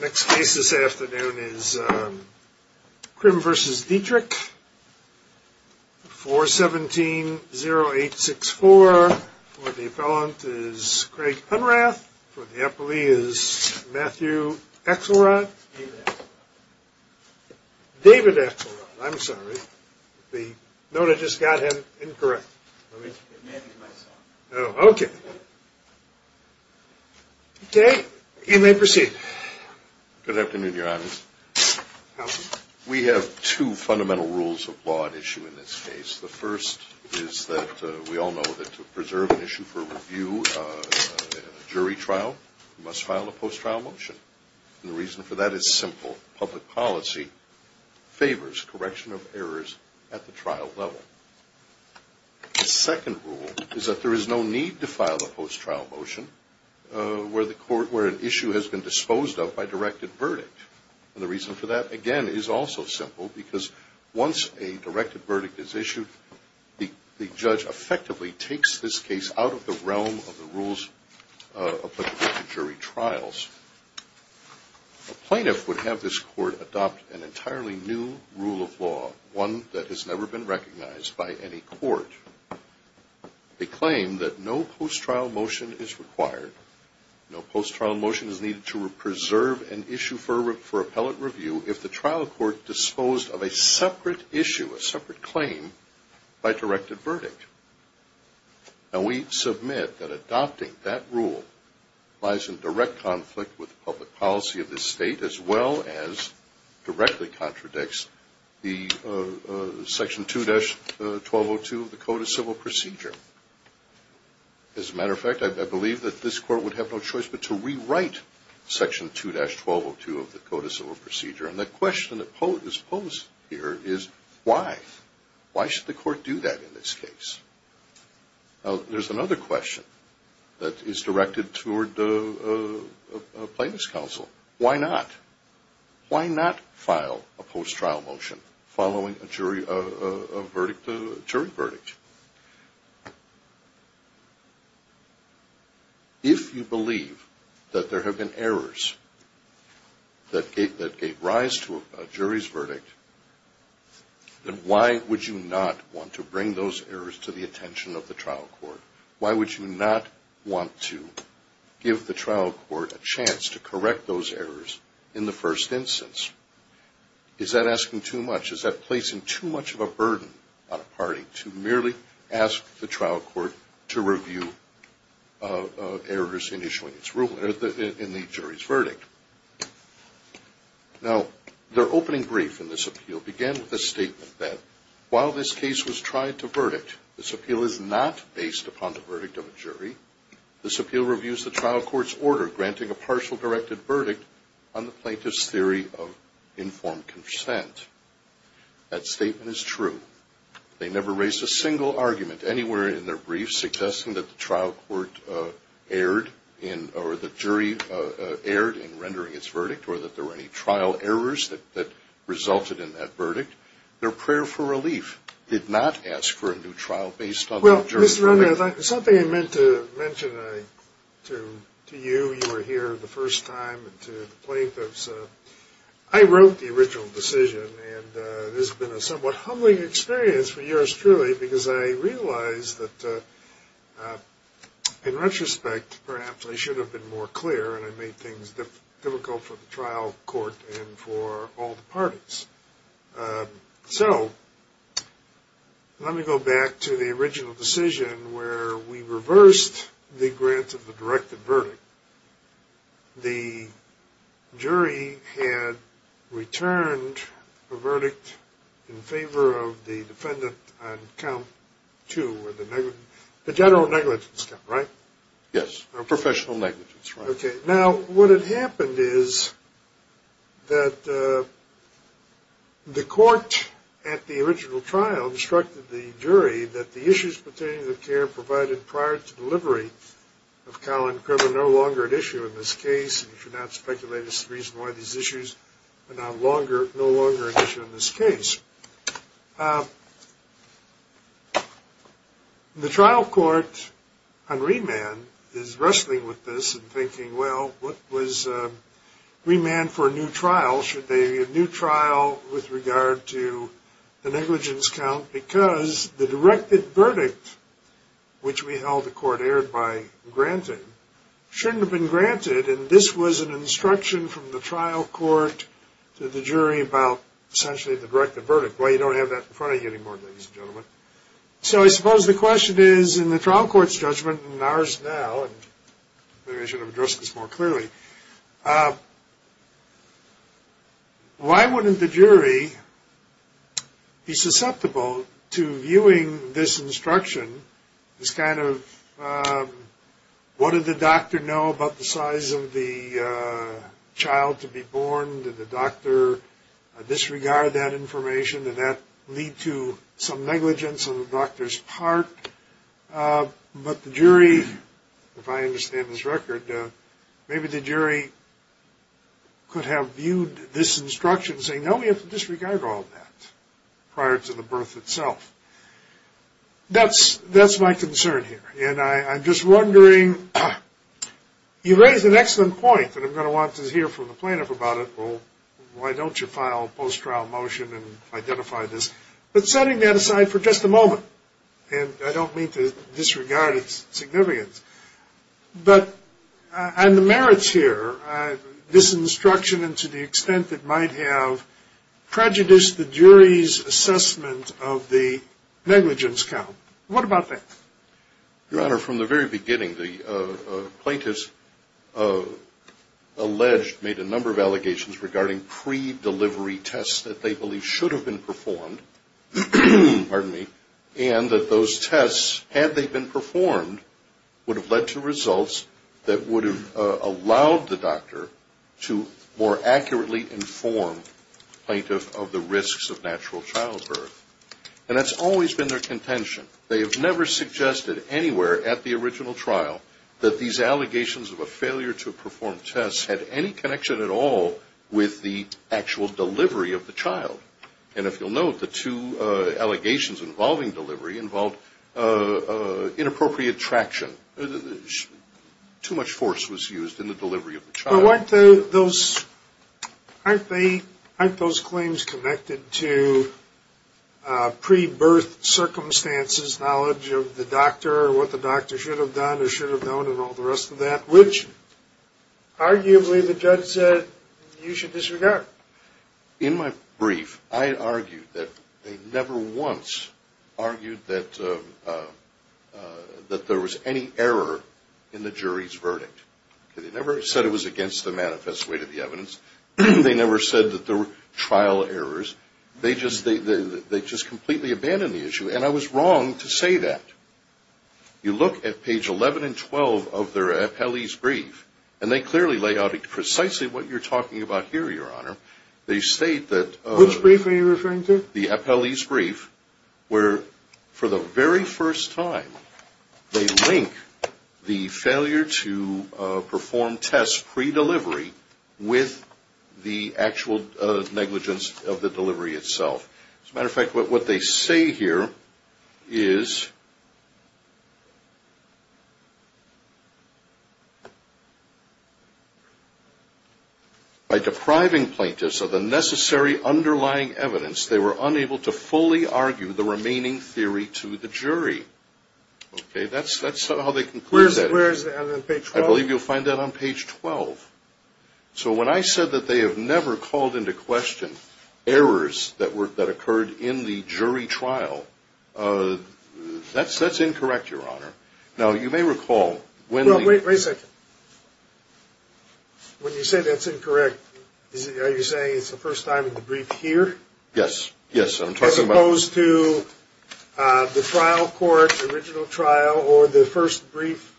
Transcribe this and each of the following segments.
Next case this afternoon is Crim v. Dietrich, 417-0864. For the appellant is Craig Unrath. For the appellee is Matthew Axelrod. David Axelrod. David Axelrod, I'm sorry. The note I just got him, incorrect. It may be my son. Okay. You may proceed. Good afternoon, Your Honor. We have two fundamental rules of law at issue in this case. The first is that we all know that to preserve an issue for review in a jury trial, you must file a post-trial motion. And the reason for that is simple. Public policy favors correction of errors at the trial level. The second rule is that there is no need to file a post-trial motion where an issue has been disposed of by directed verdict. And the reason for that, again, is also simple, because once a directed verdict is issued, the judge effectively takes this case out of the realm of the rules of the jury trials. A plaintiff would have this court adopt an entirely new rule of law, one that has never been recognized by any court. They claim that no post-trial motion is required. No post-trial motion is needed to preserve an issue for appellate review if the trial court disposed of a separate issue, a separate claim, by directed verdict. Now, we submit that adopting that rule lies in direct conflict with public policy of this state as well as directly contradicts the Section 2-1202 of the Code of Civil Procedure. As a matter of fact, I believe that this court would have no choice but to rewrite Section 2-1202 of the Code of Civil Procedure. And the question that is posed here is why. Why should the court do that in this case? Now, there's another question that is directed toward a plaintiff's counsel. Why not? Why not file a post-trial motion following a jury verdict? If you believe that there have been errors that gave rise to a jury's verdict, then why would you not want to bring those errors to the attention of the trial court? Why would you not want to give the trial court a chance to correct those errors in the first instance? Is that asking too much? Is that placing too much of a burden on a party to merely ask the trial court to review errors in the jury's verdict? Now, their opening brief in this appeal began with a statement that while this case was tried to verdict, this appeal is not based upon the verdict of a jury. This appeal reviews the trial court's order granting a partial directed verdict on the plaintiff's theory of informed consent. That statement is true. They never raised a single argument anywhere in their brief suggesting that the trial court erred or the jury erred in rendering its verdict or that there were any trial errors that resulted in that verdict. Their prayer for relief did not ask for a new trial based on that jury's verdict. Well, Mr. Roney, something I meant to mention to you, you were here the first time, and to the plaintiffs, I wrote the original decision, and it has been a somewhat humbling experience for yours truly because I realize that in retrospect perhaps I should have been more clear and I made things difficult for the trial court and for all the parties. So let me go back to the original decision where we reversed the grant of the directed verdict. The jury had returned a verdict in favor of the defendant on count two, the general negligence count, right? Yes, professional negligence. Okay. Now, what had happened is that the court at the original trial instructed the jury that the issues pertaining to the care provided prior to delivery of cow and crib are no longer an issue in this case, and you should not speculate as to the reason why these issues are no longer an issue in this case. The trial court on remand is wrestling with this and thinking, well, what was remand for a new trial? Should there be a new trial with regard to the negligence count because the directed verdict, which we held the court erred by granting, shouldn't have been granted, and this was an instruction from the trial court to the jury about essentially the directed verdict. Well, you don't have that in front of you anymore, ladies and gentlemen. So I suppose the question is in the trial court's judgment and ours now, and maybe I should have addressed this more clearly. Why wouldn't the jury be susceptible to viewing this instruction as kind of, what did the doctor know about the size of the child to be born? Did the doctor disregard that information? Did that lead to some negligence on the doctor's part? But the jury, if I understand this record, maybe the jury could have viewed this instruction saying, no, we have to disregard all that prior to the birth itself. That's my concern here, and I'm just wondering, you raised an excellent point, and I'm going to want to hear from the plaintiff about it. Well, why don't you file a post-trial motion and identify this? But setting that aside for just a moment, and I don't mean to disregard its significance, but on the merits here, this instruction and to the extent it might have prejudiced the jury's assessment of the negligence count. What about that? Your Honor, from the very beginning, the plaintiff's alleged made a number of allegations regarding pre-delivery tests that they believe should have been performed, and that those tests, had they been performed, would have led to results that would have allowed the doctor to more accurately inform the plaintiff of the risks of natural childbirth. And that's always been their contention. They have never suggested anywhere at the original trial that these allegations of a failure to perform tests had any connection at all with the actual delivery of the child. And if you'll note, the two allegations involving delivery involved inappropriate traction. Too much force was used in the delivery of the child. Well, aren't those claims connected to pre-birth circumstances, knowledge of the doctor, what the doctor should have done or should have known, and all the rest of that, which arguably the judge said you should disregard? In my brief, I argued that they never once argued that there was any error in the jury's verdict. They never said it was against the manifest way to the evidence. They never said that there were trial errors. They just completely abandoned the issue. And I was wrong to say that. You look at page 11 and 12 of their appellee's brief, and they clearly lay out precisely what you're talking about here, Your Honor. Which brief are you referring to? The appellee's brief where, for the very first time, they link the failure to perform tests pre-delivery with the actual negligence of the delivery itself. As a matter of fact, what they say here is, by depriving plaintiffs of the necessary underlying evidence, they were unable to fully argue the remaining theory to the jury. Okay, that's how they conclude that. Where is that, on page 12? I believe you'll find that on page 12. So when I said that they have never called into question errors that occurred in the jury trial, that's incorrect, Your Honor. Now, you may recall when the... Wait a second. When you say that's incorrect, are you saying it's the first time in the brief here? Yes. As opposed to the trial court, the original trial, or the first brief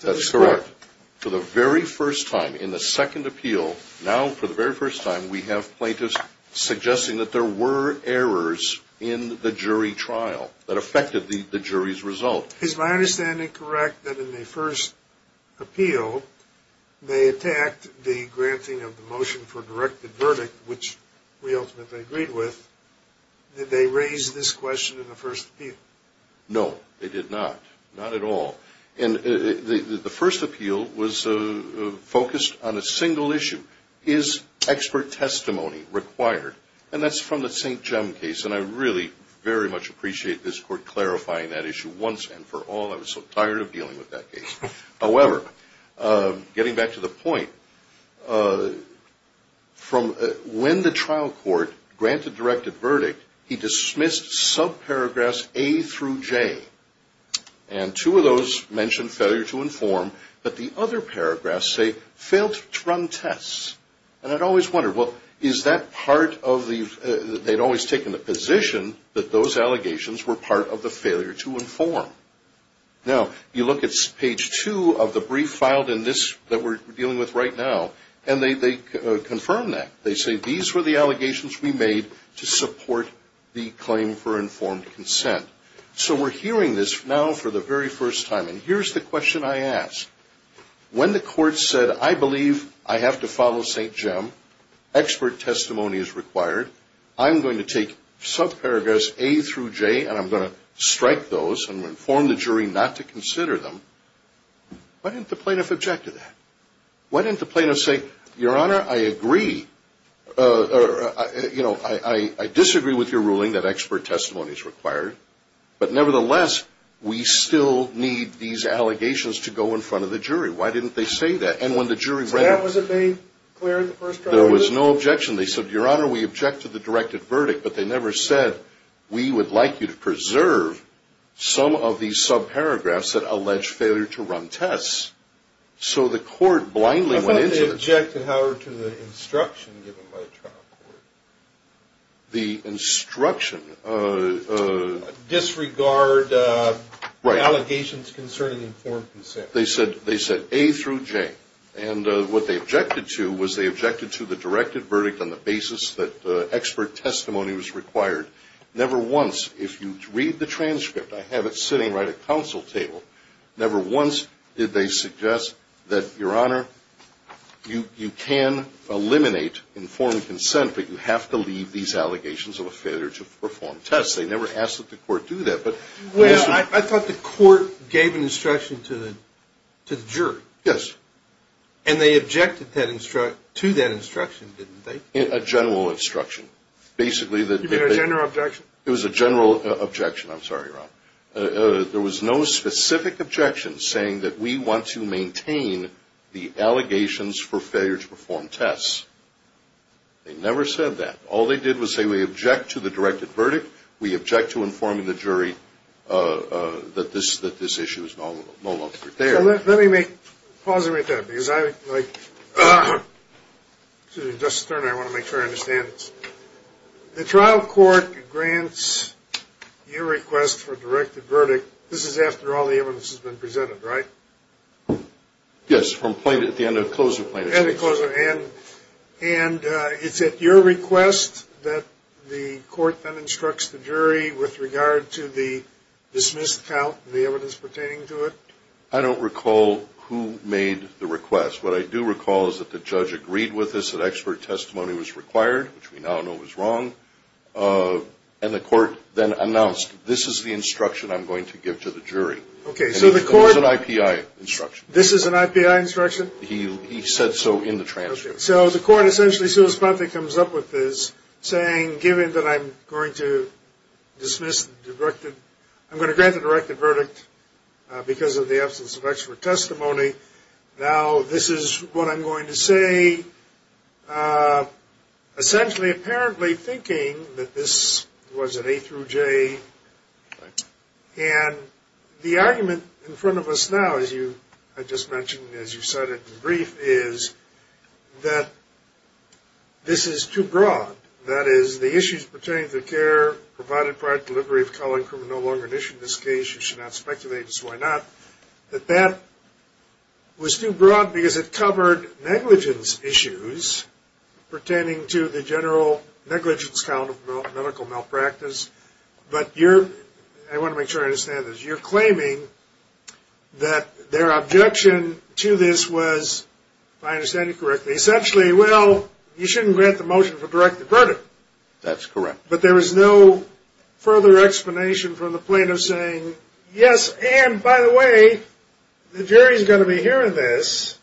to the court? That's correct. But for the very first time in the second appeal, now for the very first time we have plaintiffs suggesting that there were errors in the jury trial that affected the jury's result. Is my understanding correct that in the first appeal, they attacked the granting of the motion for directed verdict, which we ultimately agreed with? Did they raise this question in the first appeal? No, they did not. Not at all. The first appeal was focused on a single issue. Is expert testimony required? And that's from the St. Jem case, and I really very much appreciate this Court clarifying that issue once and for all. I was so tired of dealing with that case. However, getting back to the point, from when the trial court granted directed verdict, he dismissed subparagraphs A through J. And two of those mentioned failure to inform, but the other paragraphs say, failed to run tests. And I'd always wondered, well, is that part of the, they'd always taken the position that those allegations were part of the failure to inform. Now, you look at page two of the brief filed in this, that we're dealing with right now, and they confirm that. They say these were the allegations we made to support the claim for informed consent. So we're hearing this now for the very first time, and here's the question I ask. When the Court said, I believe I have to follow St. Jem, expert testimony is required, I'm going to take subparagraphs A through J, and I'm going to strike those and inform the jury not to consider them, why didn't the plaintiff object to that? Why didn't the plaintiff say, Your Honor, I agree, or, you know, I disagree with your ruling that expert testimony is required, but nevertheless, we still need these allegations to go in front of the jury. Why didn't they say that? And when the jury read it. So that wasn't made clear in the first trial? There was no objection. They said, Your Honor, we object to the directed verdict, but they never said we would like you to preserve some of these subparagraphs that allege failure to run tests. So the Court blindly went into this. They objected, however, to the instruction given by the trial court. The instruction? Disregard allegations concerning informed consent. They said A through J, and what they objected to was they objected to the directed verdict on the basis that expert testimony was required. Never once, if you read the transcript, I have it sitting right at counsel table, never once did they suggest that, Your Honor, you can eliminate informed consent, but you have to leave these allegations of a failure to perform tests. They never asked that the Court do that. Well, I thought the Court gave an instruction to the jury. Yes. And they objected to that instruction, didn't they? A general instruction. You mean a general objection? It was a general objection. I'm sorry, Ron. There was no specific objection saying that we want to maintain the allegations for failure to perform tests. They never said that. All they did was say we object to the directed verdict, we object to informing the jury that this issue is no longer there. Let me make, pause a minute there, because I, like, excuse me, Justice Stern, I want to make sure I understand this. The trial court grants your request for a directed verdict. This is after all the evidence has been presented, right? Yes, from the end of the closure plaintiff's case. End of the closure, and it's at your request that the Court then instructs the jury with regard to the dismissed count and the evidence pertaining to it? I don't recall who made the request. What I do recall is that the judge agreed with us, that expert testimony was required, which we now know was wrong, and the Court then announced, this is the instruction I'm going to give to the jury. Okay, so the Court. It was an IPI instruction. This is an IPI instruction? He said so in the transcript. So the Court essentially, so as the plaintiff comes up with this, saying given that I'm going to dismiss the directed, I'm going to grant the directed verdict because of the absence of expert testimony, now this is what I'm going to say, essentially apparently thinking that this was an A through J, and the argument in front of us now, as I just mentioned as you cited in the brief, is that this is too broad. That is, the issues pertaining to the care provided prior to delivery of color and crime are no longer an issue in this case. You should not speculate as to why not. That that was too broad because it covered negligence issues pertaining to the general negligence count of medical malpractice, but you're, I want to make sure I understand this, you're claiming that their objection to this was, if I understand you correctly, essentially, well, you shouldn't grant the motion for directed verdict. That's correct. But there was no further explanation from the plaintiff saying, yes, and by the way, the jury is going to be hearing this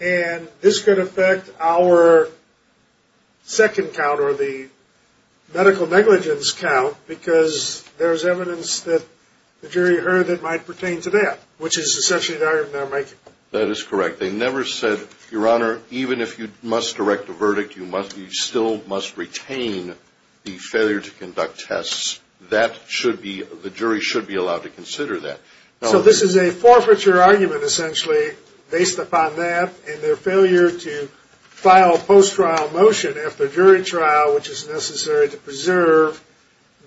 and this could affect our second count or the medical negligence count because there's evidence that the jury heard that might pertain to that, which is essentially the argument they're making. That is correct. They never said, your honor, even if you must direct a verdict, you still must retain the failure to conduct tests. That should be, the jury should be allowed to consider that. So this is a forfeiture argument, essentially, based upon that, and their failure to file a post-trial motion after jury trial, which is necessary to preserve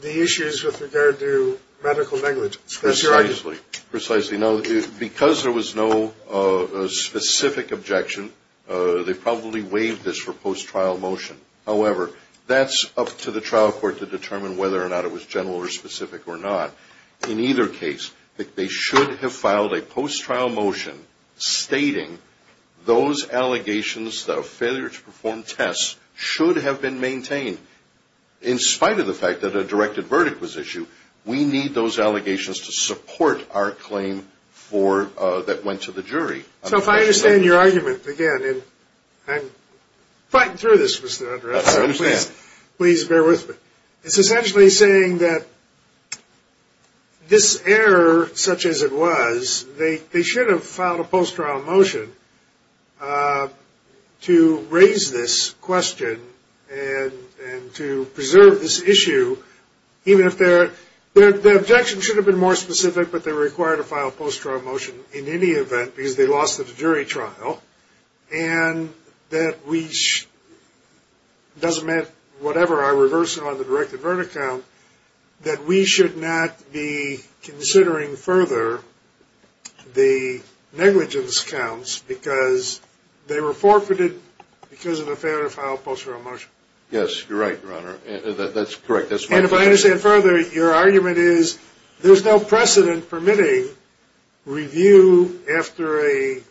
the issues with regard to medical negligence. Precisely. Precisely. Now, because there was no specific objection, they probably waived this for post-trial motion. However, that's up to the trial court to determine whether or not it was general or specific or not. In either case, they should have filed a post-trial motion stating those allegations of failure to perform tests should have been maintained. In spite of the fact that a directed verdict was issued, we need those allegations to support our claim that went to the jury. So if I understand your argument, again, I'm fighting through this, Mr. Underwood. I understand. Please bear with me. It's essentially saying that this error, such as it was, they should have filed a post-trial motion to raise this question and to preserve this issue, even if their objection should have been more specific, but they were required to file a post-trial motion in any event because they lost the jury trial. And that we – it doesn't matter whatever our reversal on the directed verdict count, that we should not be considering further the negligence counts because they were forfeited because of a failure to file a post-trial motion. Yes, you're right, Your Honor. That's correct. That's my point. And if I understand further, your argument is there's no precedent for permitting review after a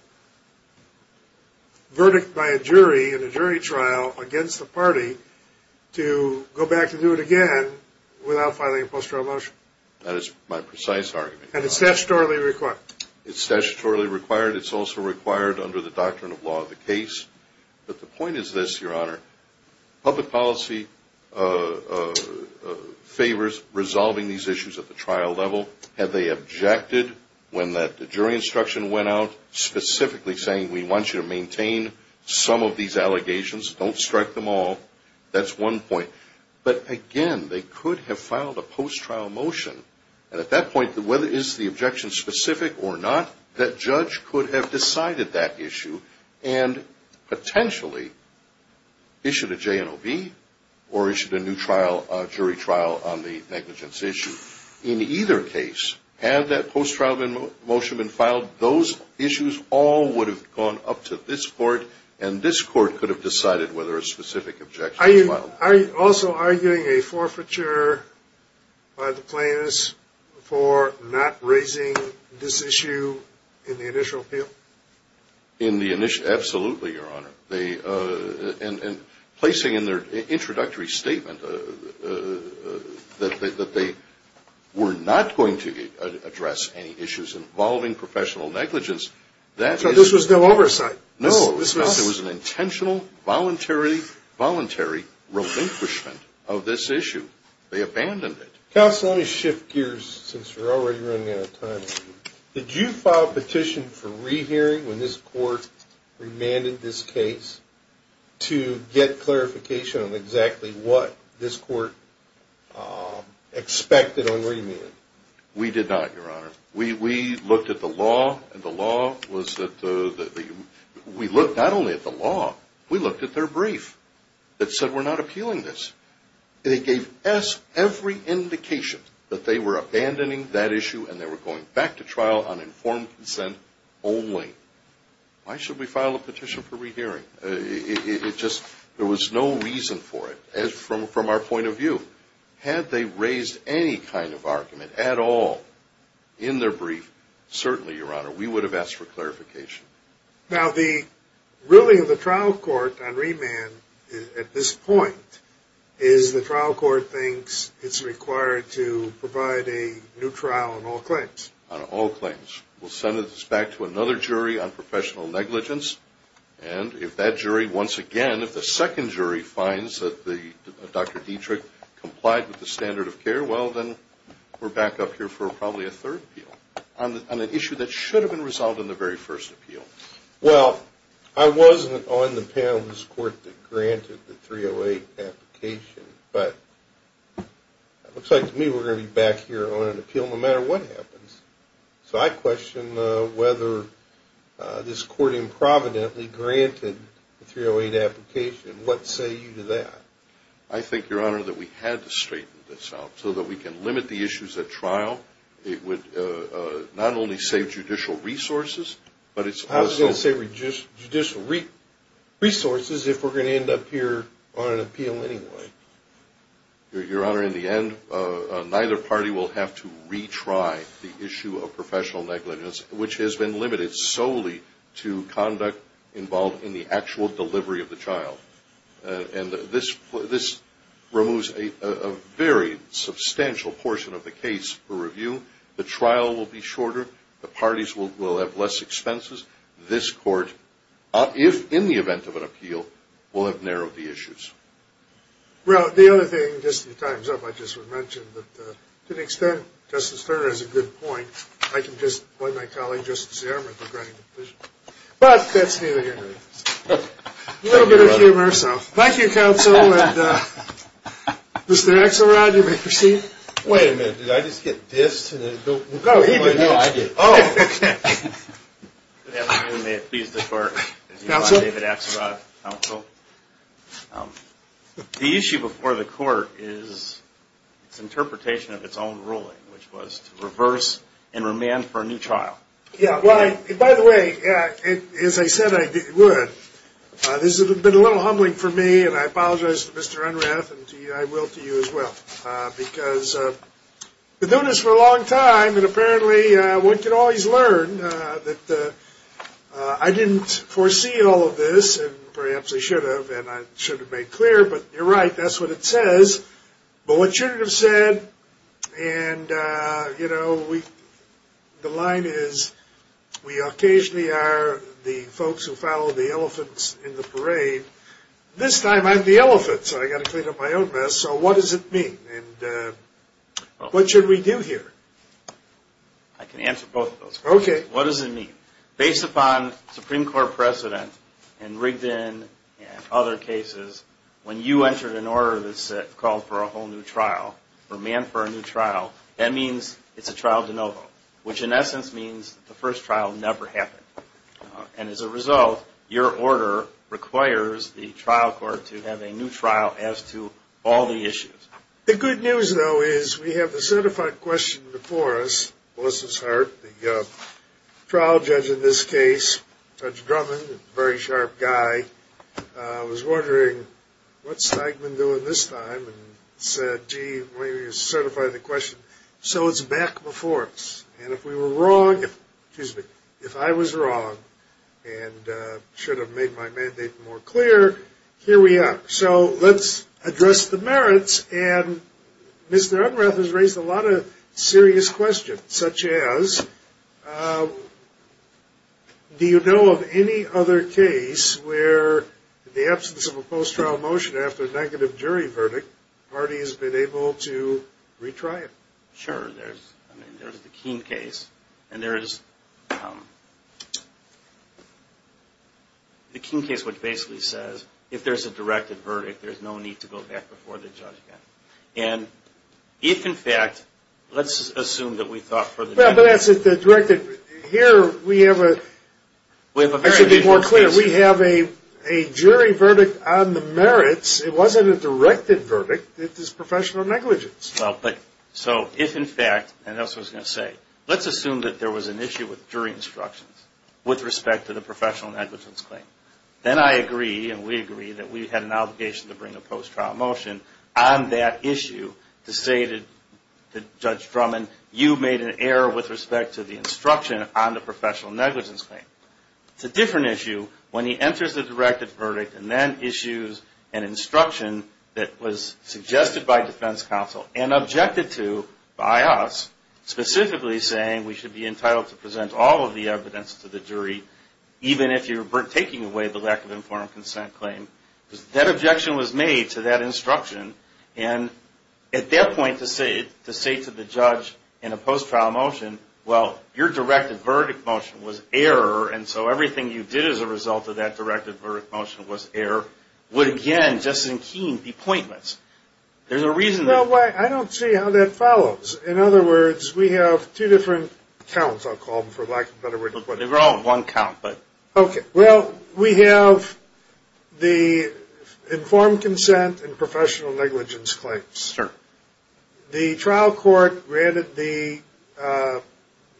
verdict by a jury in a jury trial against the party to go back and do it again without filing a post-trial motion. That is my precise argument. And it's statutorily required. It's statutorily required. It's also required under the doctrine of law of the case. But the point is this, Your Honor. Public policy favors resolving these issues at the trial level and they objected when the jury instruction went out specifically saying, we want you to maintain some of these allegations. Don't strike them all. That's one point. But, again, they could have filed a post-trial motion. And at that point, whether it is the objection specific or not, that judge could have decided that issue and potentially issued a J&OB or issued a new jury trial on the negligence issue. In either case, had that post-trial motion been filed, those issues all would have gone up to this court and this court could have decided whether a specific objection was filed. Are you also arguing a forfeiture by the plaintiffs for not raising this issue in the initial appeal? Absolutely, Your Honor. And placing in their introductory statement that they were not going to address any issues involving professional negligence. So this was no oversight? No, it was an intentional, voluntary relinquishment of this issue. They abandoned it. Counsel, let me shift gears since we're already running out of time. Did you file a petition for rehearing when this court remanded this case to get clarification on exactly what this court expected on remanding? We did not, Your Honor. We looked at the law, and the law was that we looked not only at the law, we looked at their brief that said we're not appealing this. They gave us every indication that they were abandoning that issue and they were going back to trial on informed consent only. Why should we file a petition for rehearing? There was no reason for it from our point of view. Had they raised any kind of argument at all in their brief, certainly, Your Honor, we would have asked for clarification. Now, really the trial court on remand at this point is the trial court thinks it's required to provide a new trial on all claims. On all claims. We'll send this back to another jury on professional negligence, and if that jury, once again, if the second jury finds that Dr. Dietrich complied with the standard of care, well, then we're back up here for probably a third appeal on an issue that should have been resolved in the very first appeal. Well, I wasn't on the panel of this court that granted the 308 application, but it looks like to me we're going to be back here on an appeal no matter what happens. So I question whether this court improvidently granted the 308 application. What say you to that? I think, Your Honor, that we had to straighten this out so that we can limit the issues at trial. It would not only save judicial resources, but it's also. I was going to say judicial resources if we're going to end up here on an appeal anyway. Your Honor, in the end, neither party will have to retry the issue of professional negligence, which has been limited solely to conduct involved in the actual delivery of the child. And this removes a very substantial portion of the case for review. The trial will be shorter. The parties will have less expenses. This court, in the event of an appeal, will have narrowed the issues. Well, the other thing, just in time's up, I just would mention that to the extent Justice Turner has a good point, I can just point my colleague, Justice Zimmer, to granting the petition. But that's neither here nor there. A little bit of humor. Thank you, Counsel. Mr. Axelrod, you may proceed. Wait a minute. Did I just get dissed? No, I did. Oh. Good afternoon. May it please the Court. Counsel? David Axelrod, Counsel. The issue before the Court is its interpretation of its own ruling, which was to reverse and remand for a new trial. Yeah. By the way, as I said I would, this has been a little humbling for me, and I apologize to Mr. Unrath, and I will to you as well. Because we've known this for a long time, and apparently one can always learn that I didn't foresee all of this, and perhaps I should have, and I should have made clear. But you're right. That's what it says. But what you should have said, and, you know, the line is, we occasionally are the folks who follow the elephants in the parade. This time I'm the elephant, so I've got to clean up my own mess. So what does it mean? And what should we do here? I can answer both of those questions. Okay. What does it mean? Based upon Supreme Court precedent in Rigdon and other cases, when you entered an order that called for a whole new trial, remand for a new trial, that means it's a trial de novo, which in essence means the first trial never happened. And as a result, your order requires the trial court to have a new trial as to all the issues. The good news, though, is we have a certified question before us, Melissa's heart, the trial judge in this case, Judge Drummond, a very sharp guy. I was wondering, what's Steigman doing this time? And he said, gee, when you certify the question, so it's back before us. And if we were wrong, excuse me, if I was wrong and should have made my mandate more clear, here we are. So let's address the merits. And Mr. Unrath has raised a lot of serious questions, such as, do you know of any other case where, in the absence of a post-trial motion after a negative jury verdict, the party has been able to retry it? Sure. There's the Keene case. And there's the Keene case, which basically says, if there's a directed verdict, there's no need to go back before the judge again. Here we have a jury verdict on the merits. It wasn't a directed verdict. It was professional negligence. So if, in fact, and that's what I was going to say, let's assume that there was an issue with jury instructions with respect to the professional negligence claim, then I agree and we agree that we had an obligation to bring a post-trial motion on that issue to say to Judge Drummond, you made an error with respect to the instruction on the professional negligence claim. It's a different issue when he enters the directed verdict and then issues an instruction that was suggested by defense counsel and objected to by us, specifically saying, we should be entitled to present all of the evidence to the jury, even if you're taking away the lack of informed consent claim. That objection was made to that instruction. And at that point, to say to the judge in a post-trial motion, well, your directed verdict motion was error, and so everything you did as a result of that directed verdict motion was error, would again, just as in Keene, be appointments. There's a reason. I don't see how that follows. In other words, we have two different counts, I'll call them for lack of a better word. They were all one count. Well, we have the informed consent and professional negligence claims. Sure. The trial court granted the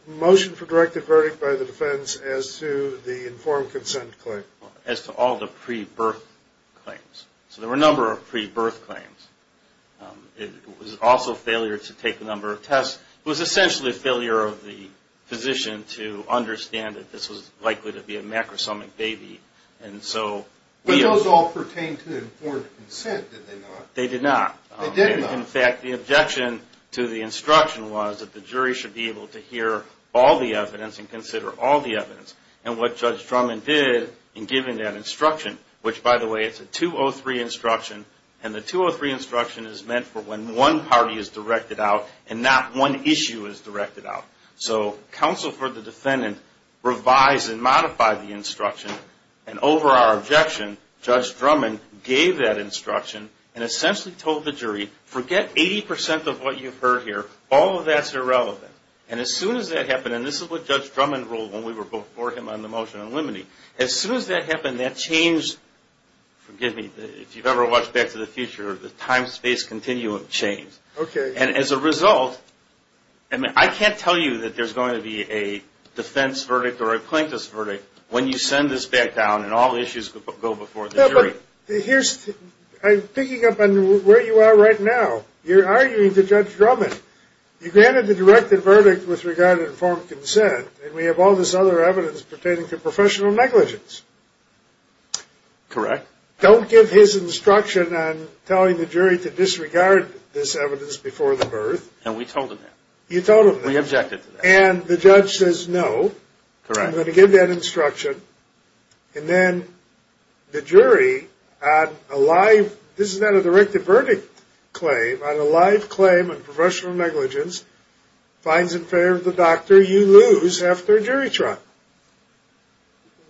motion for directed verdict by the defense as to the informed consent claim. As to all the pre-birth claims. So there were a number of pre-birth claims. It was also a failure to take a number of tests. It was essentially a failure of the physician to understand that this was likely to be a macrosomic baby. But those all pertained to the informed consent, did they not? They did not. They did not. In fact, the objection to the instruction was that the jury should be able to hear all the evidence and consider all the evidence. And what Judge Drummond did in giving that instruction, which, by the way, it's a 203 instruction, and the 203 instruction is meant for when one party is directed out and not one issue is directed out. So counsel for the defendant revised and modified the instruction. And over our objection, Judge Drummond gave that instruction and essentially told the jury, forget 80% of what you've heard here. All of that's irrelevant. And as soon as that happened, and this is what Judge Drummond ruled when we were before him on the motion on limine. As soon as that happened, that changed, forgive me, if you've ever watched Back to the Future, the time-space continuum changed. Okay. And as a result, I can't tell you that there's going to be a defense verdict or a plaintiff's verdict when you send this back down and all issues go before the jury. No, but here's the thing. I'm picking up on where you are right now. You're arguing to Judge Drummond. You granted the directed verdict with regard to informed consent, and we have all this other evidence pertaining to professional negligence. Correct. Don't give his instruction on telling the jury to disregard this evidence before the birth. And we told him that. You told him that. We objected to that. And the judge says no. Correct. I'm going to give that instruction. And then the jury, on a live, this is not a directed verdict claim, on a live claim on professional negligence, finds it fair to the doctor you lose after a jury trial.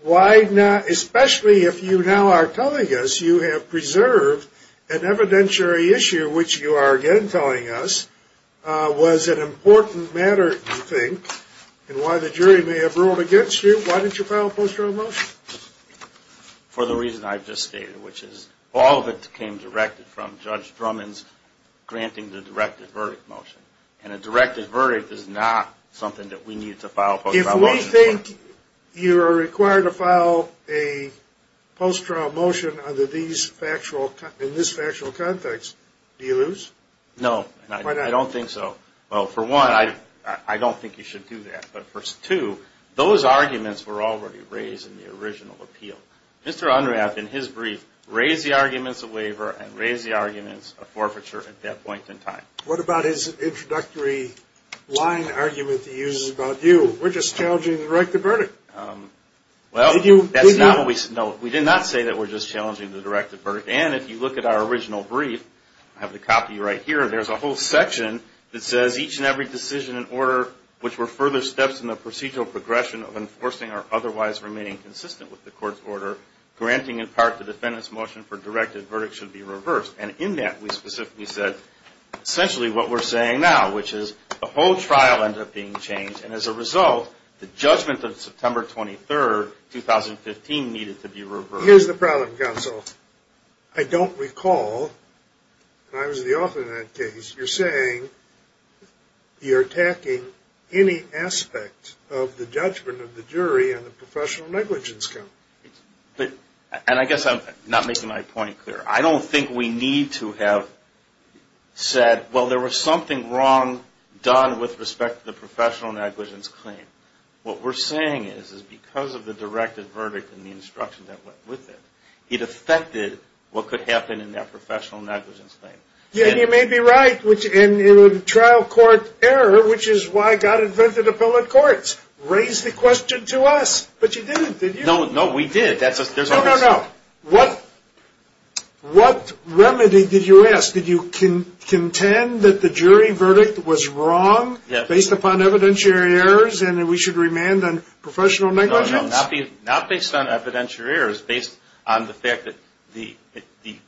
Why not, especially if you now are telling us you have preserved an evidentiary issue, which you are again telling us was an important matter, you think, and why the jury may have ruled against you. Why didn't you file a post-trial motion? For the reason I just stated, which is all of it came directed from Judge Drummond's granting the directed verdict motion. And a directed verdict is not something that we need to file a post-trial motion for. If we think you are required to file a post-trial motion in this factual context, do you lose? No. Why not? I don't think so. Well, for one, I don't think you should do that. But for two, those arguments were already raised in the original appeal. Mr. Unrath, in his brief, raised the arguments of waiver and raised the arguments of forfeiture at that point in time. What about his introductory line argument he uses about you? We're just challenging the directed verdict. Well, that's not what we said. No, we did not say that we're just challenging the directed verdict. And if you look at our original brief, I have the copy right here, there's a whole section that says, each and every decision and order which were further steps in the procedural progression of enforcing are otherwise remaining consistent with the court's order, granting in part the defendant's motion for directed verdict should be reversed. And in that we specifically said essentially what we're saying now, which is the whole trial ended up being changed. And as a result, the judgment of September 23rd, 2015, needed to be reversed. Here's the problem, counsel. I don't recall, and I was the author of that case, you're saying you're attacking any aspect of the judgment of the jury on the professional negligence count. And I guess I'm not making my point clear. I don't think we need to have said, well, there was something wrong done with respect to the professional negligence claim. What we're saying is because of the directed verdict and the instruction that went with it, it affected what could happen in that professional negligence claim. Yeah, and you may be right. And in a trial court error, which is why God invented appellate courts, raised the question to us. But you didn't, did you? No, we did. No, no, no. What remedy did you ask? Did you contend that the jury verdict was wrong based upon evidentiary errors and that we should remand on professional negligence? No, not based on evidentiary errors, based on the fact that the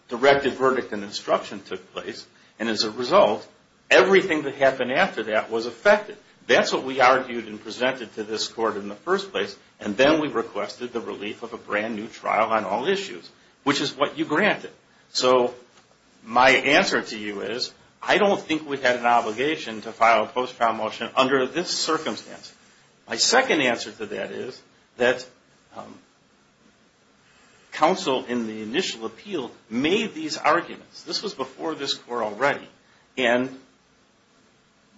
directed verdict and instruction took place. And as a result, everything that happened after that was affected. That's what we argued and presented to this court in the first place. And then we requested the relief of a brand new trial on all issues, which is what you granted. So my answer to you is I don't think we had an obligation to file a post-trial motion under this circumstance. My second answer to that is that counsel in the initial appeal made these arguments. This was before this court already. And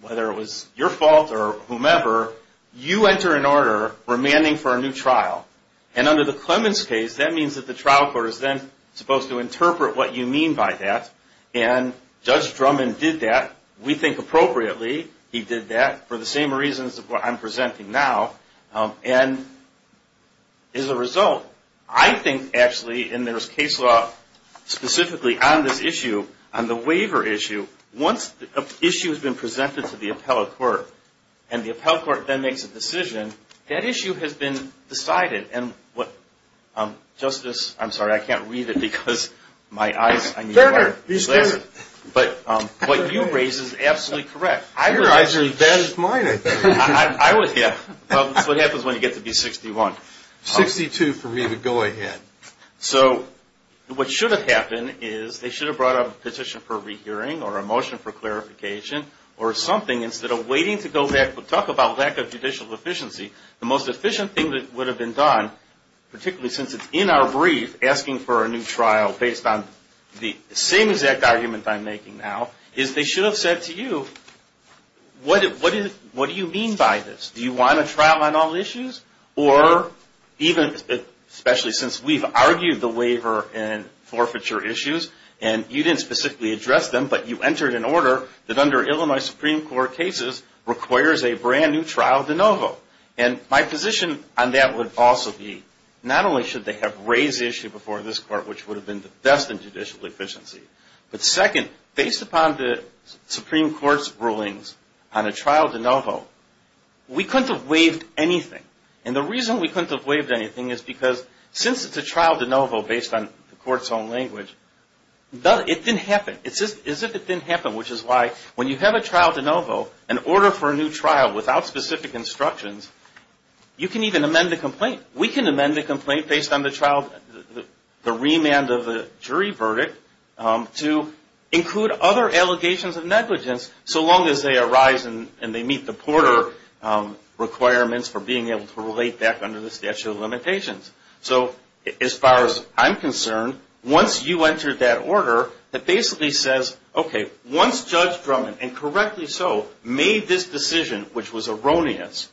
whether it was your fault or whomever, you enter an order remanding for a new trial. And under the Clemens case, that means that the trial court is then supposed to interpret what you mean by that. And Judge Drummond did that. We think appropriately he did that for the same reasons of what I'm presenting now. And as a result, I think actually, and there's case law specifically on this issue, on the waiver issue, once an issue has been presented to the appellate court and the appellate court then makes a decision, that issue has been decided. Justice, I'm sorry, I can't read it because my eyes, I need water. But what you raise is absolutely correct. Your eyes are as bad as mine, I think. Well, that's what happens when you get to be 61. 62 for me to go ahead. So what should have happened is they should have brought up a petition for rehearing or a motion for clarification or something, instead of waiting to go back to talk about lack of judicial efficiency. The most efficient thing that would have been done, particularly since it's in our brief, asking for a new trial based on the same exact argument I'm making now, is they should have said to you, what do you mean by this? Do you want a trial on all issues? Or even, especially since we've argued the waiver and forfeiture issues, and you didn't specifically address them, but you entered an order that under Illinois Supreme Court cases requires a brand new trial de novo. And my position on that would also be, not only should they have raised the issue before this court, which would have been the best in judicial efficiency, but second, based upon the Supreme Court's rulings on a trial de novo, we couldn't have waived anything. And the reason we couldn't have waived anything is because since it's a trial de novo based on the court's own language, it didn't happen. It's as if it didn't happen, which is why when you have a trial de novo, an order for a new trial without specific instructions, you can even amend the complaint. We can amend the complaint based on the remand of the jury verdict to include other allegations of negligence, so long as they arise and they meet the Porter requirements for being able to relate back under the statute of limitations. So as far as I'm concerned, once you enter that order, it basically says, okay, once Judge Drummond, and correctly so, made this decision, which was erroneous,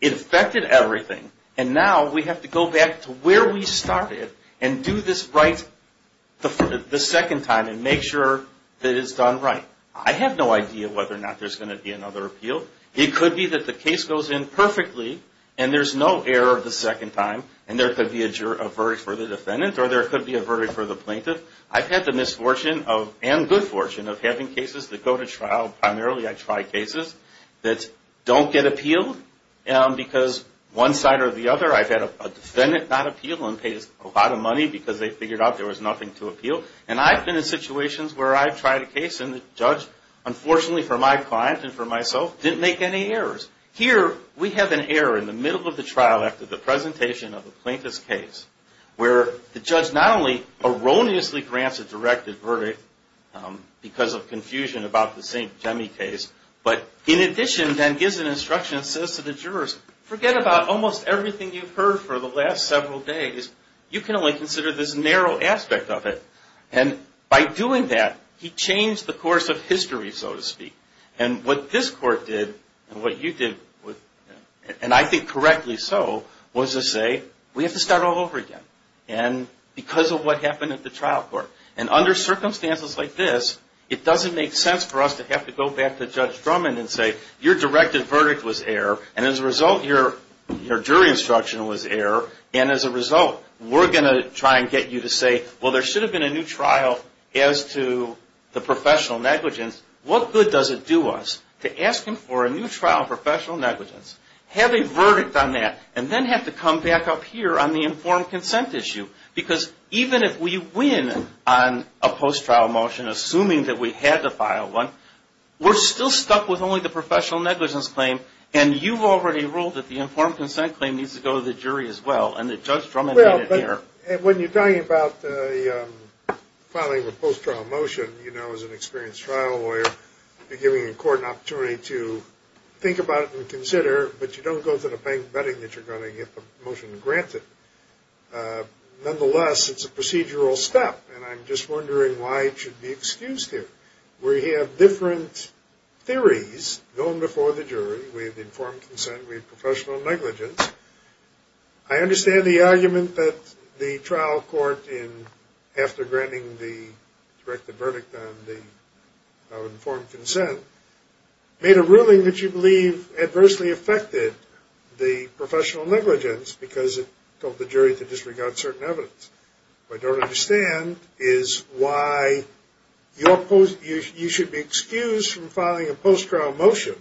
it affected everything, and now we have to go back to where we started and do this right the second time and make sure that it's done right. I have no idea whether or not there's going to be another appeal. It could be that the case goes in perfectly and there's no error the second time and there could be a verdict for the defendant or there could be a verdict for the plaintiff. I've had the misfortune and good fortune of having cases that go to trial, primarily I try cases that don't get appealed because one side or the other, I've had a defendant not appeal and pay a lot of money because they figured out there was nothing to appeal, and I've been in situations where I've tried a case and the judge, unfortunately for my client and for myself, didn't make any errors. Here we have an error in the middle of the trial after the presentation of the plaintiff's case where the judge not only erroneously grants a directed verdict because of confusion about the St. Demi case, but in addition then gives an instruction and says to the jurors, forget about almost everything you've heard for the last several days, you can only consider this narrow aspect of it. And by doing that, he changed the course of history, so to speak. And what this court did and what you did, and I think correctly so, was to say we have to start all over again because of what happened at the trial court. And under circumstances like this, it doesn't make sense for us to have to go back to Judge Drummond and say your directed verdict was error and as a result your jury instruction was error and as a result we're going to try and get you to say, well there should have been a new trial as to the professional negligence. What good does it do us to ask him for a new trial on professional negligence, have a verdict on that, and then have to come back up here on the informed consent issue? Because even if we win on a post-trial motion, assuming that we had to file one, we're still stuck with only the professional negligence claim and you've already ruled that the informed consent claim needs to go to the jury as well and that Judge Drummond made it there. When you're talking about filing a post-trial motion, you know as an experienced trial lawyer, you're giving the court an opportunity to think about it and consider, but you don't go to the bank betting that you're going to get the motion granted. Nonetheless, it's a procedural step and I'm just wondering why it should be excused here. We have different theories going before the jury. We have informed consent, we have professional negligence. I understand the argument that the trial court, after granting the directed verdict on the informed consent, made a ruling that you believe adversely affected the professional negligence because it told the jury to disregard certain evidence. What I don't understand is why you should be excused from filing a post-trial motion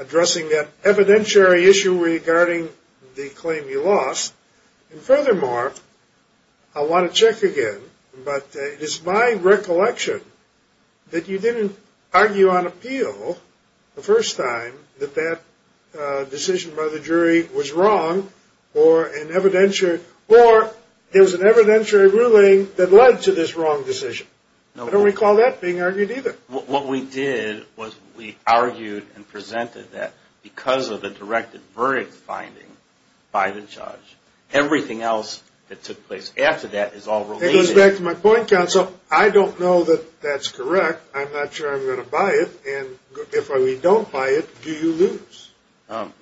addressing that evidentiary issue regarding the claim you lost. And furthermore, I want to check again, but it is my recollection that you didn't argue on appeal the first time that that decision by the jury was wrong or there was an evidentiary ruling that led to this wrong decision. I don't recall that being argued either. What we did was we argued and presented that because of the directed verdict finding by the judge, everything else that took place after that is all related. It goes back to my point, counsel. I don't know that that's correct. I'm not sure I'm going to buy it, and if I don't buy it, do you lose?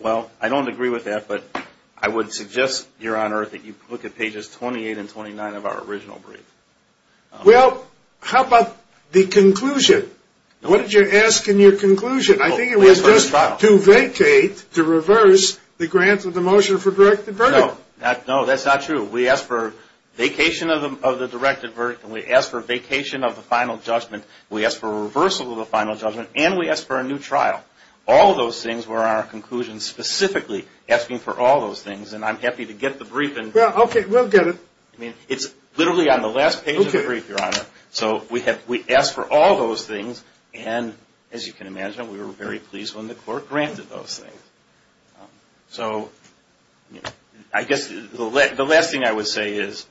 Well, I don't agree with that, but I would suggest, Your Honor, that you look at pages 28 and 29 of our original brief. Well, how about the conclusion? What did you ask in your conclusion? I think it was just to vacate, to reverse the grant of the motion for directed verdict. No, that's not true. We asked for vacation of the directed verdict, and we asked for vacation of the final judgment. We asked for reversal of the final judgment, and we asked for a new trial. All of those things were in our conclusion specifically asking for all those things, and I'm happy to get the brief. Okay, we'll get it. It's literally on the last page of the brief, Your Honor. So we asked for all those things, and as you can imagine, we were very pleased when the court granted those things. So I guess the last thing I would say is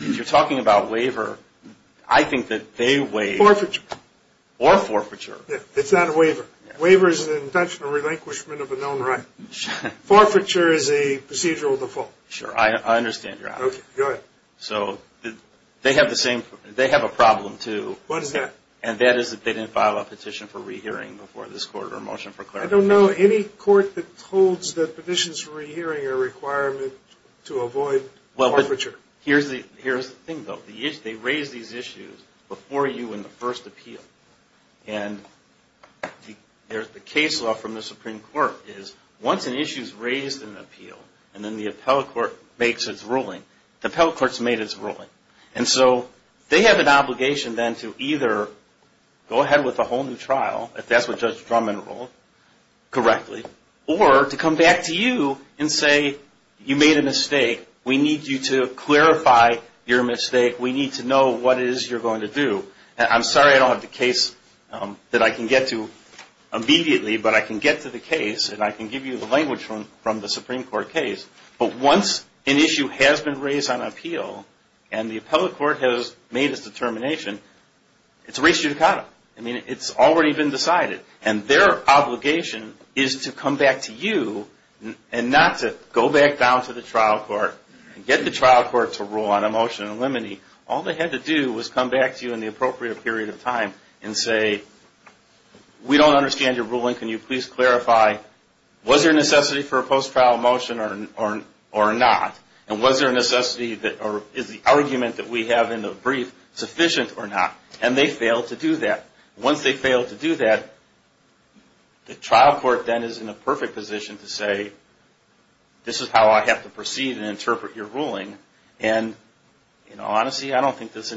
if you're talking about waiver, I think that they waive. Forfeiture. Or forfeiture. It's not a waiver. Waiver is an intentional relinquishment of a known right. Forfeiture is a procedural default. Sure, I understand, Your Honor. Okay, go ahead. So they have a problem, too. What is that? And that is that they didn't file a petition for rehearing before this court or a motion for clarification. I don't know any court that holds that petitions for rehearing are a requirement to avoid forfeiture. Here's the thing, though. They raise these issues before you in the first appeal. And the case law from the Supreme Court is once an issue is raised in an appeal and then the appellate court makes its ruling, the appellate court has made its ruling. And so they have an obligation then to either go ahead with a whole new trial, if that's what Judge Drummond ruled correctly, or to come back to you and say, you made a mistake. We need you to clarify your mistake. We need to know what it is you're going to do. And I'm sorry I don't have the case that I can get to immediately, but I can get to the case and I can give you the language from the Supreme Court case. But once an issue has been raised on appeal and the appellate court has made its determination, it's res judicata. I mean, it's already been decided. And their obligation is to come back to you and not to go back down to the trial court and get the trial court to rule on a motion in limine. All they had to do was come back to you in the appropriate period of time and say, we don't understand your ruling. Can you please clarify? Was there necessity for a post-trial motion or not? And was there necessity or is the argument that we have in the brief sufficient or not? And they failed to do that. Once they fail to do that, the trial court then is in a perfect position to say, this is how I have to proceed and interpret your ruling. And, you know, honestly, I don't think this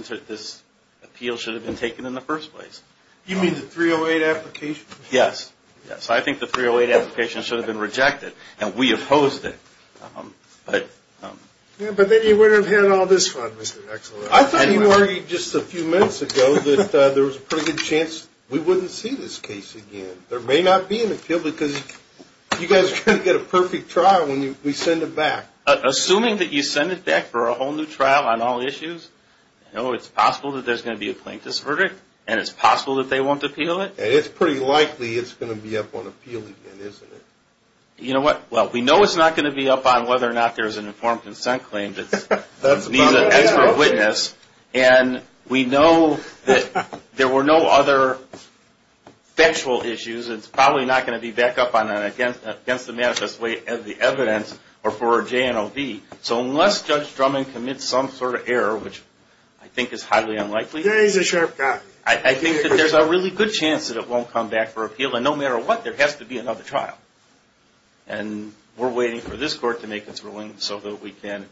appeal should have been taken in the first place. You mean the 308 application? Yes. Yes, I think the 308 application should have been rejected. And we opposed it. But then you wouldn't have had all this fun, Mr. Excellen. I thought you worried just a few minutes ago that there was a pretty good chance we wouldn't see this case again. There may not be an appeal because you guys are going to get a perfect trial when we send it back. Assuming that you send it back for a whole new trial on all issues, you know it's possible that there's going to be a plaintiff's verdict and it's possible that they won't appeal it. And it's pretty likely it's going to be up on appeal again, isn't it? You know what? Well, we know it's not going to be up on whether or not there's an informed consent claim that needs an expert witness. And we know that there were no other factual issues. It's probably not going to be back up against the manifest way as the evidence or for a J&OB. So unless Judge Drummond commits some sort of error, which I think is highly unlikely. There is a sharp cut. I think that there's a really good chance that it won't come back for appeal. And no matter what, there has to be another trial. And we're waiting for this court to make its ruling so that we can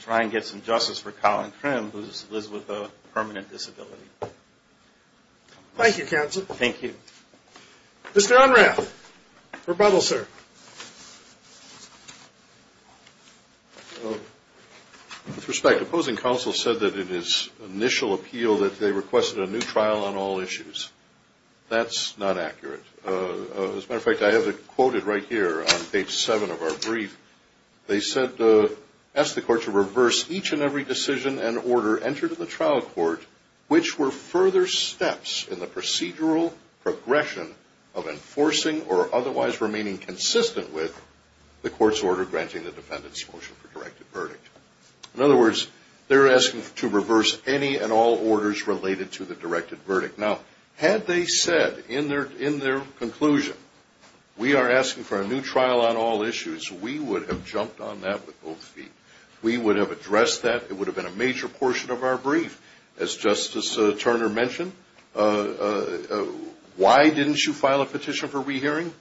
try and get some justice for Colin Crim, who lives with a permanent disability. Thank you, counsel. Thank you. Mr. Unrath, rebuttal, sir. With respect, opposing counsel said that it is initial appeal that they requested a new trial on all issues. That's not accurate. As a matter of fact, I have it quoted right here on page 7 of our brief. They said, ask the court to reverse each and every decision and order entered in the trial court, which were further steps in the procedural progression of enforcing or otherwise remaining consistent with the court's order granting the defendant's motion for directed verdict. In other words, they're asking to reverse any and all orders related to the directed verdict. Now, had they said in their conclusion, we are asking for a new trial on all issues, we would have jumped on that with both feet. We would have addressed that. It would have been a major portion of our brief. As Justice Turner mentioned, why didn't you file a petition for rehearing?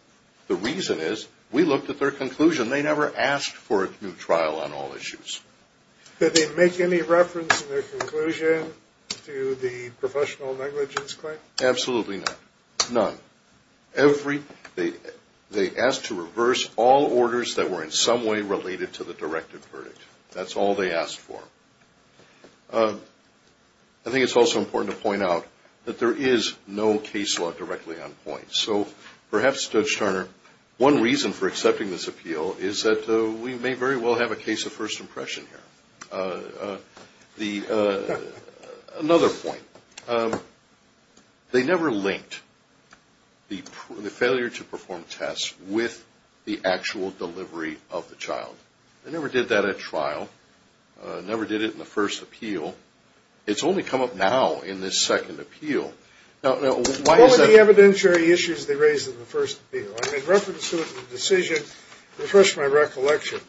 The reason is we looked at their conclusion. They never asked for a new trial on all issues. Did they make any reference in their conclusion to the professional negligence claim? Absolutely not. None. They asked to reverse all orders that were in some way related to the directed verdict. That's all they asked for. I think it's also important to point out that there is no case law directly on point. So perhaps, Judge Turner, one reason for accepting this appeal is that we may very well have a case of first impression here. Another point. They never linked the failure to perform tests with the actual delivery of the child. They never did that at trial, never did it in the first appeal. It's only come up now in this second appeal. What were the evidentiary issues they raised in the first appeal? In reference to the decision, refresh my recollection.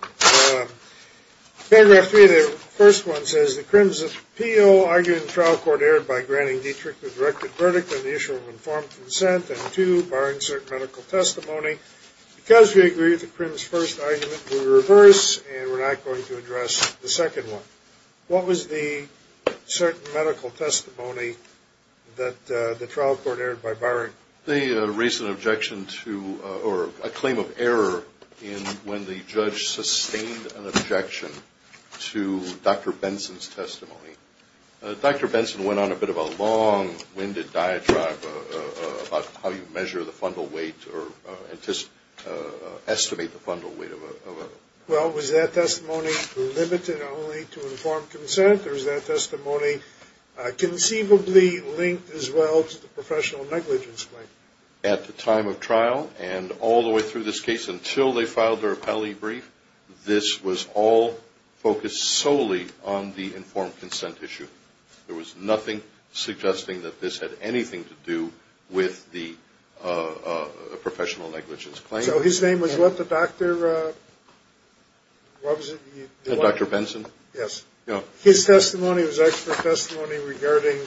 Paragraph three of the first one says, the Crimson appeal argued in trial court erred by granting Dietrich the directed verdict on the issue of informed consent. And two, barring certain medical testimony, because we agree with the Crimson's first argument, we reverse and we're not going to address the second one. What was the certain medical testimony that the trial court erred by barring? They raised an objection to, or a claim of error in when the judge sustained an objection to Dr. Benson's testimony. Dr. Benson went on a bit of a long-winded diatribe about how you measure the fundal weight or estimate the fundal weight. Well, was that testimony limited only to informed consent, or was that testimony conceivably linked as well to the professional negligence claim? At the time of trial and all the way through this case until they filed their appellee brief, this was all focused solely on the informed consent issue. There was nothing suggesting that this had anything to do with the professional negligence claim. So his name was Dr. Benson? Yes. His testimony was expert testimony regarding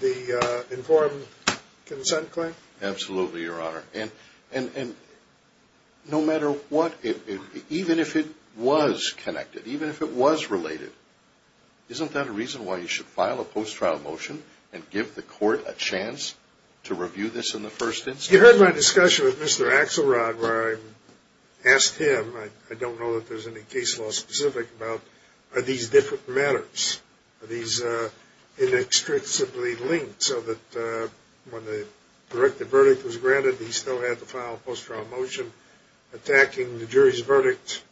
the informed consent claim? Absolutely, Your Honor. And no matter what, even if it was connected, even if it was related, isn't that a reason why you should file a post-trial motion and give the court a chance to review this in the first instance? You heard my discussion with Mr. Axelrod where I asked him, I don't know that there's any case law specific about, are these different matters? Are these inextricably linked so that when the directed verdict was granted, he still had to file a post-trial motion attacking the jury's verdict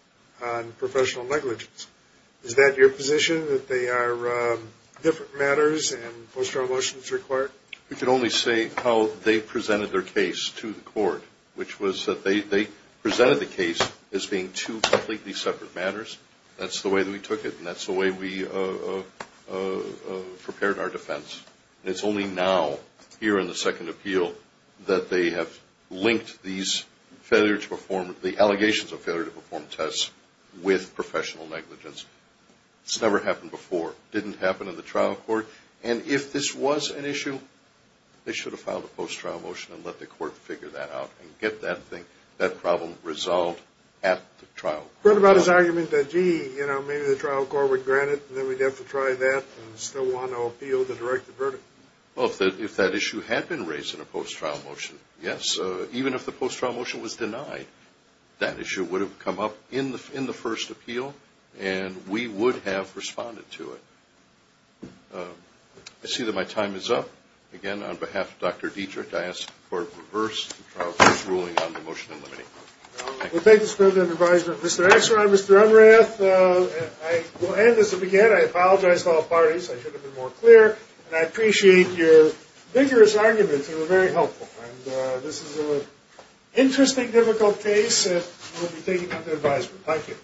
on professional negligence? Is that your position, that they are different matters and post-trial motions required? We can only say how they presented their case to the court, which was that they presented the case as being two completely separate matters. That's the way that we took it, and that's the way we prepared our defense. It's only now, here in the second appeal, that they have linked these allegations of failure to perform tests with professional negligence. It's never happened before. It didn't happen in the trial court. And if this was an issue, they should have filed a post-trial motion and let the court figure that out and get that problem resolved at the trial court. What about his argument that, gee, maybe the trial court would grant it, and then we'd have to try that and still want to appeal the directed verdict? Well, if that issue had been raised in a post-trial motion, yes. Even if the post-trial motion was denied, that issue would have come up in the first appeal, and we would have responded to it. I see that my time is up. Again, on behalf of Dr. Dietrich, I ask the court to reverse the trial court's ruling on the motion in limiting. Thank you. We'll take this to the advisement. Mr. Axelrod, Mr. Emmerath, I will end this. Again, I apologize to all parties. I should have been more clear. And I appreciate your vigorous arguments. They were very helpful. And this is an interesting, difficult case, and we'll be taking it up to advisement. Thank you.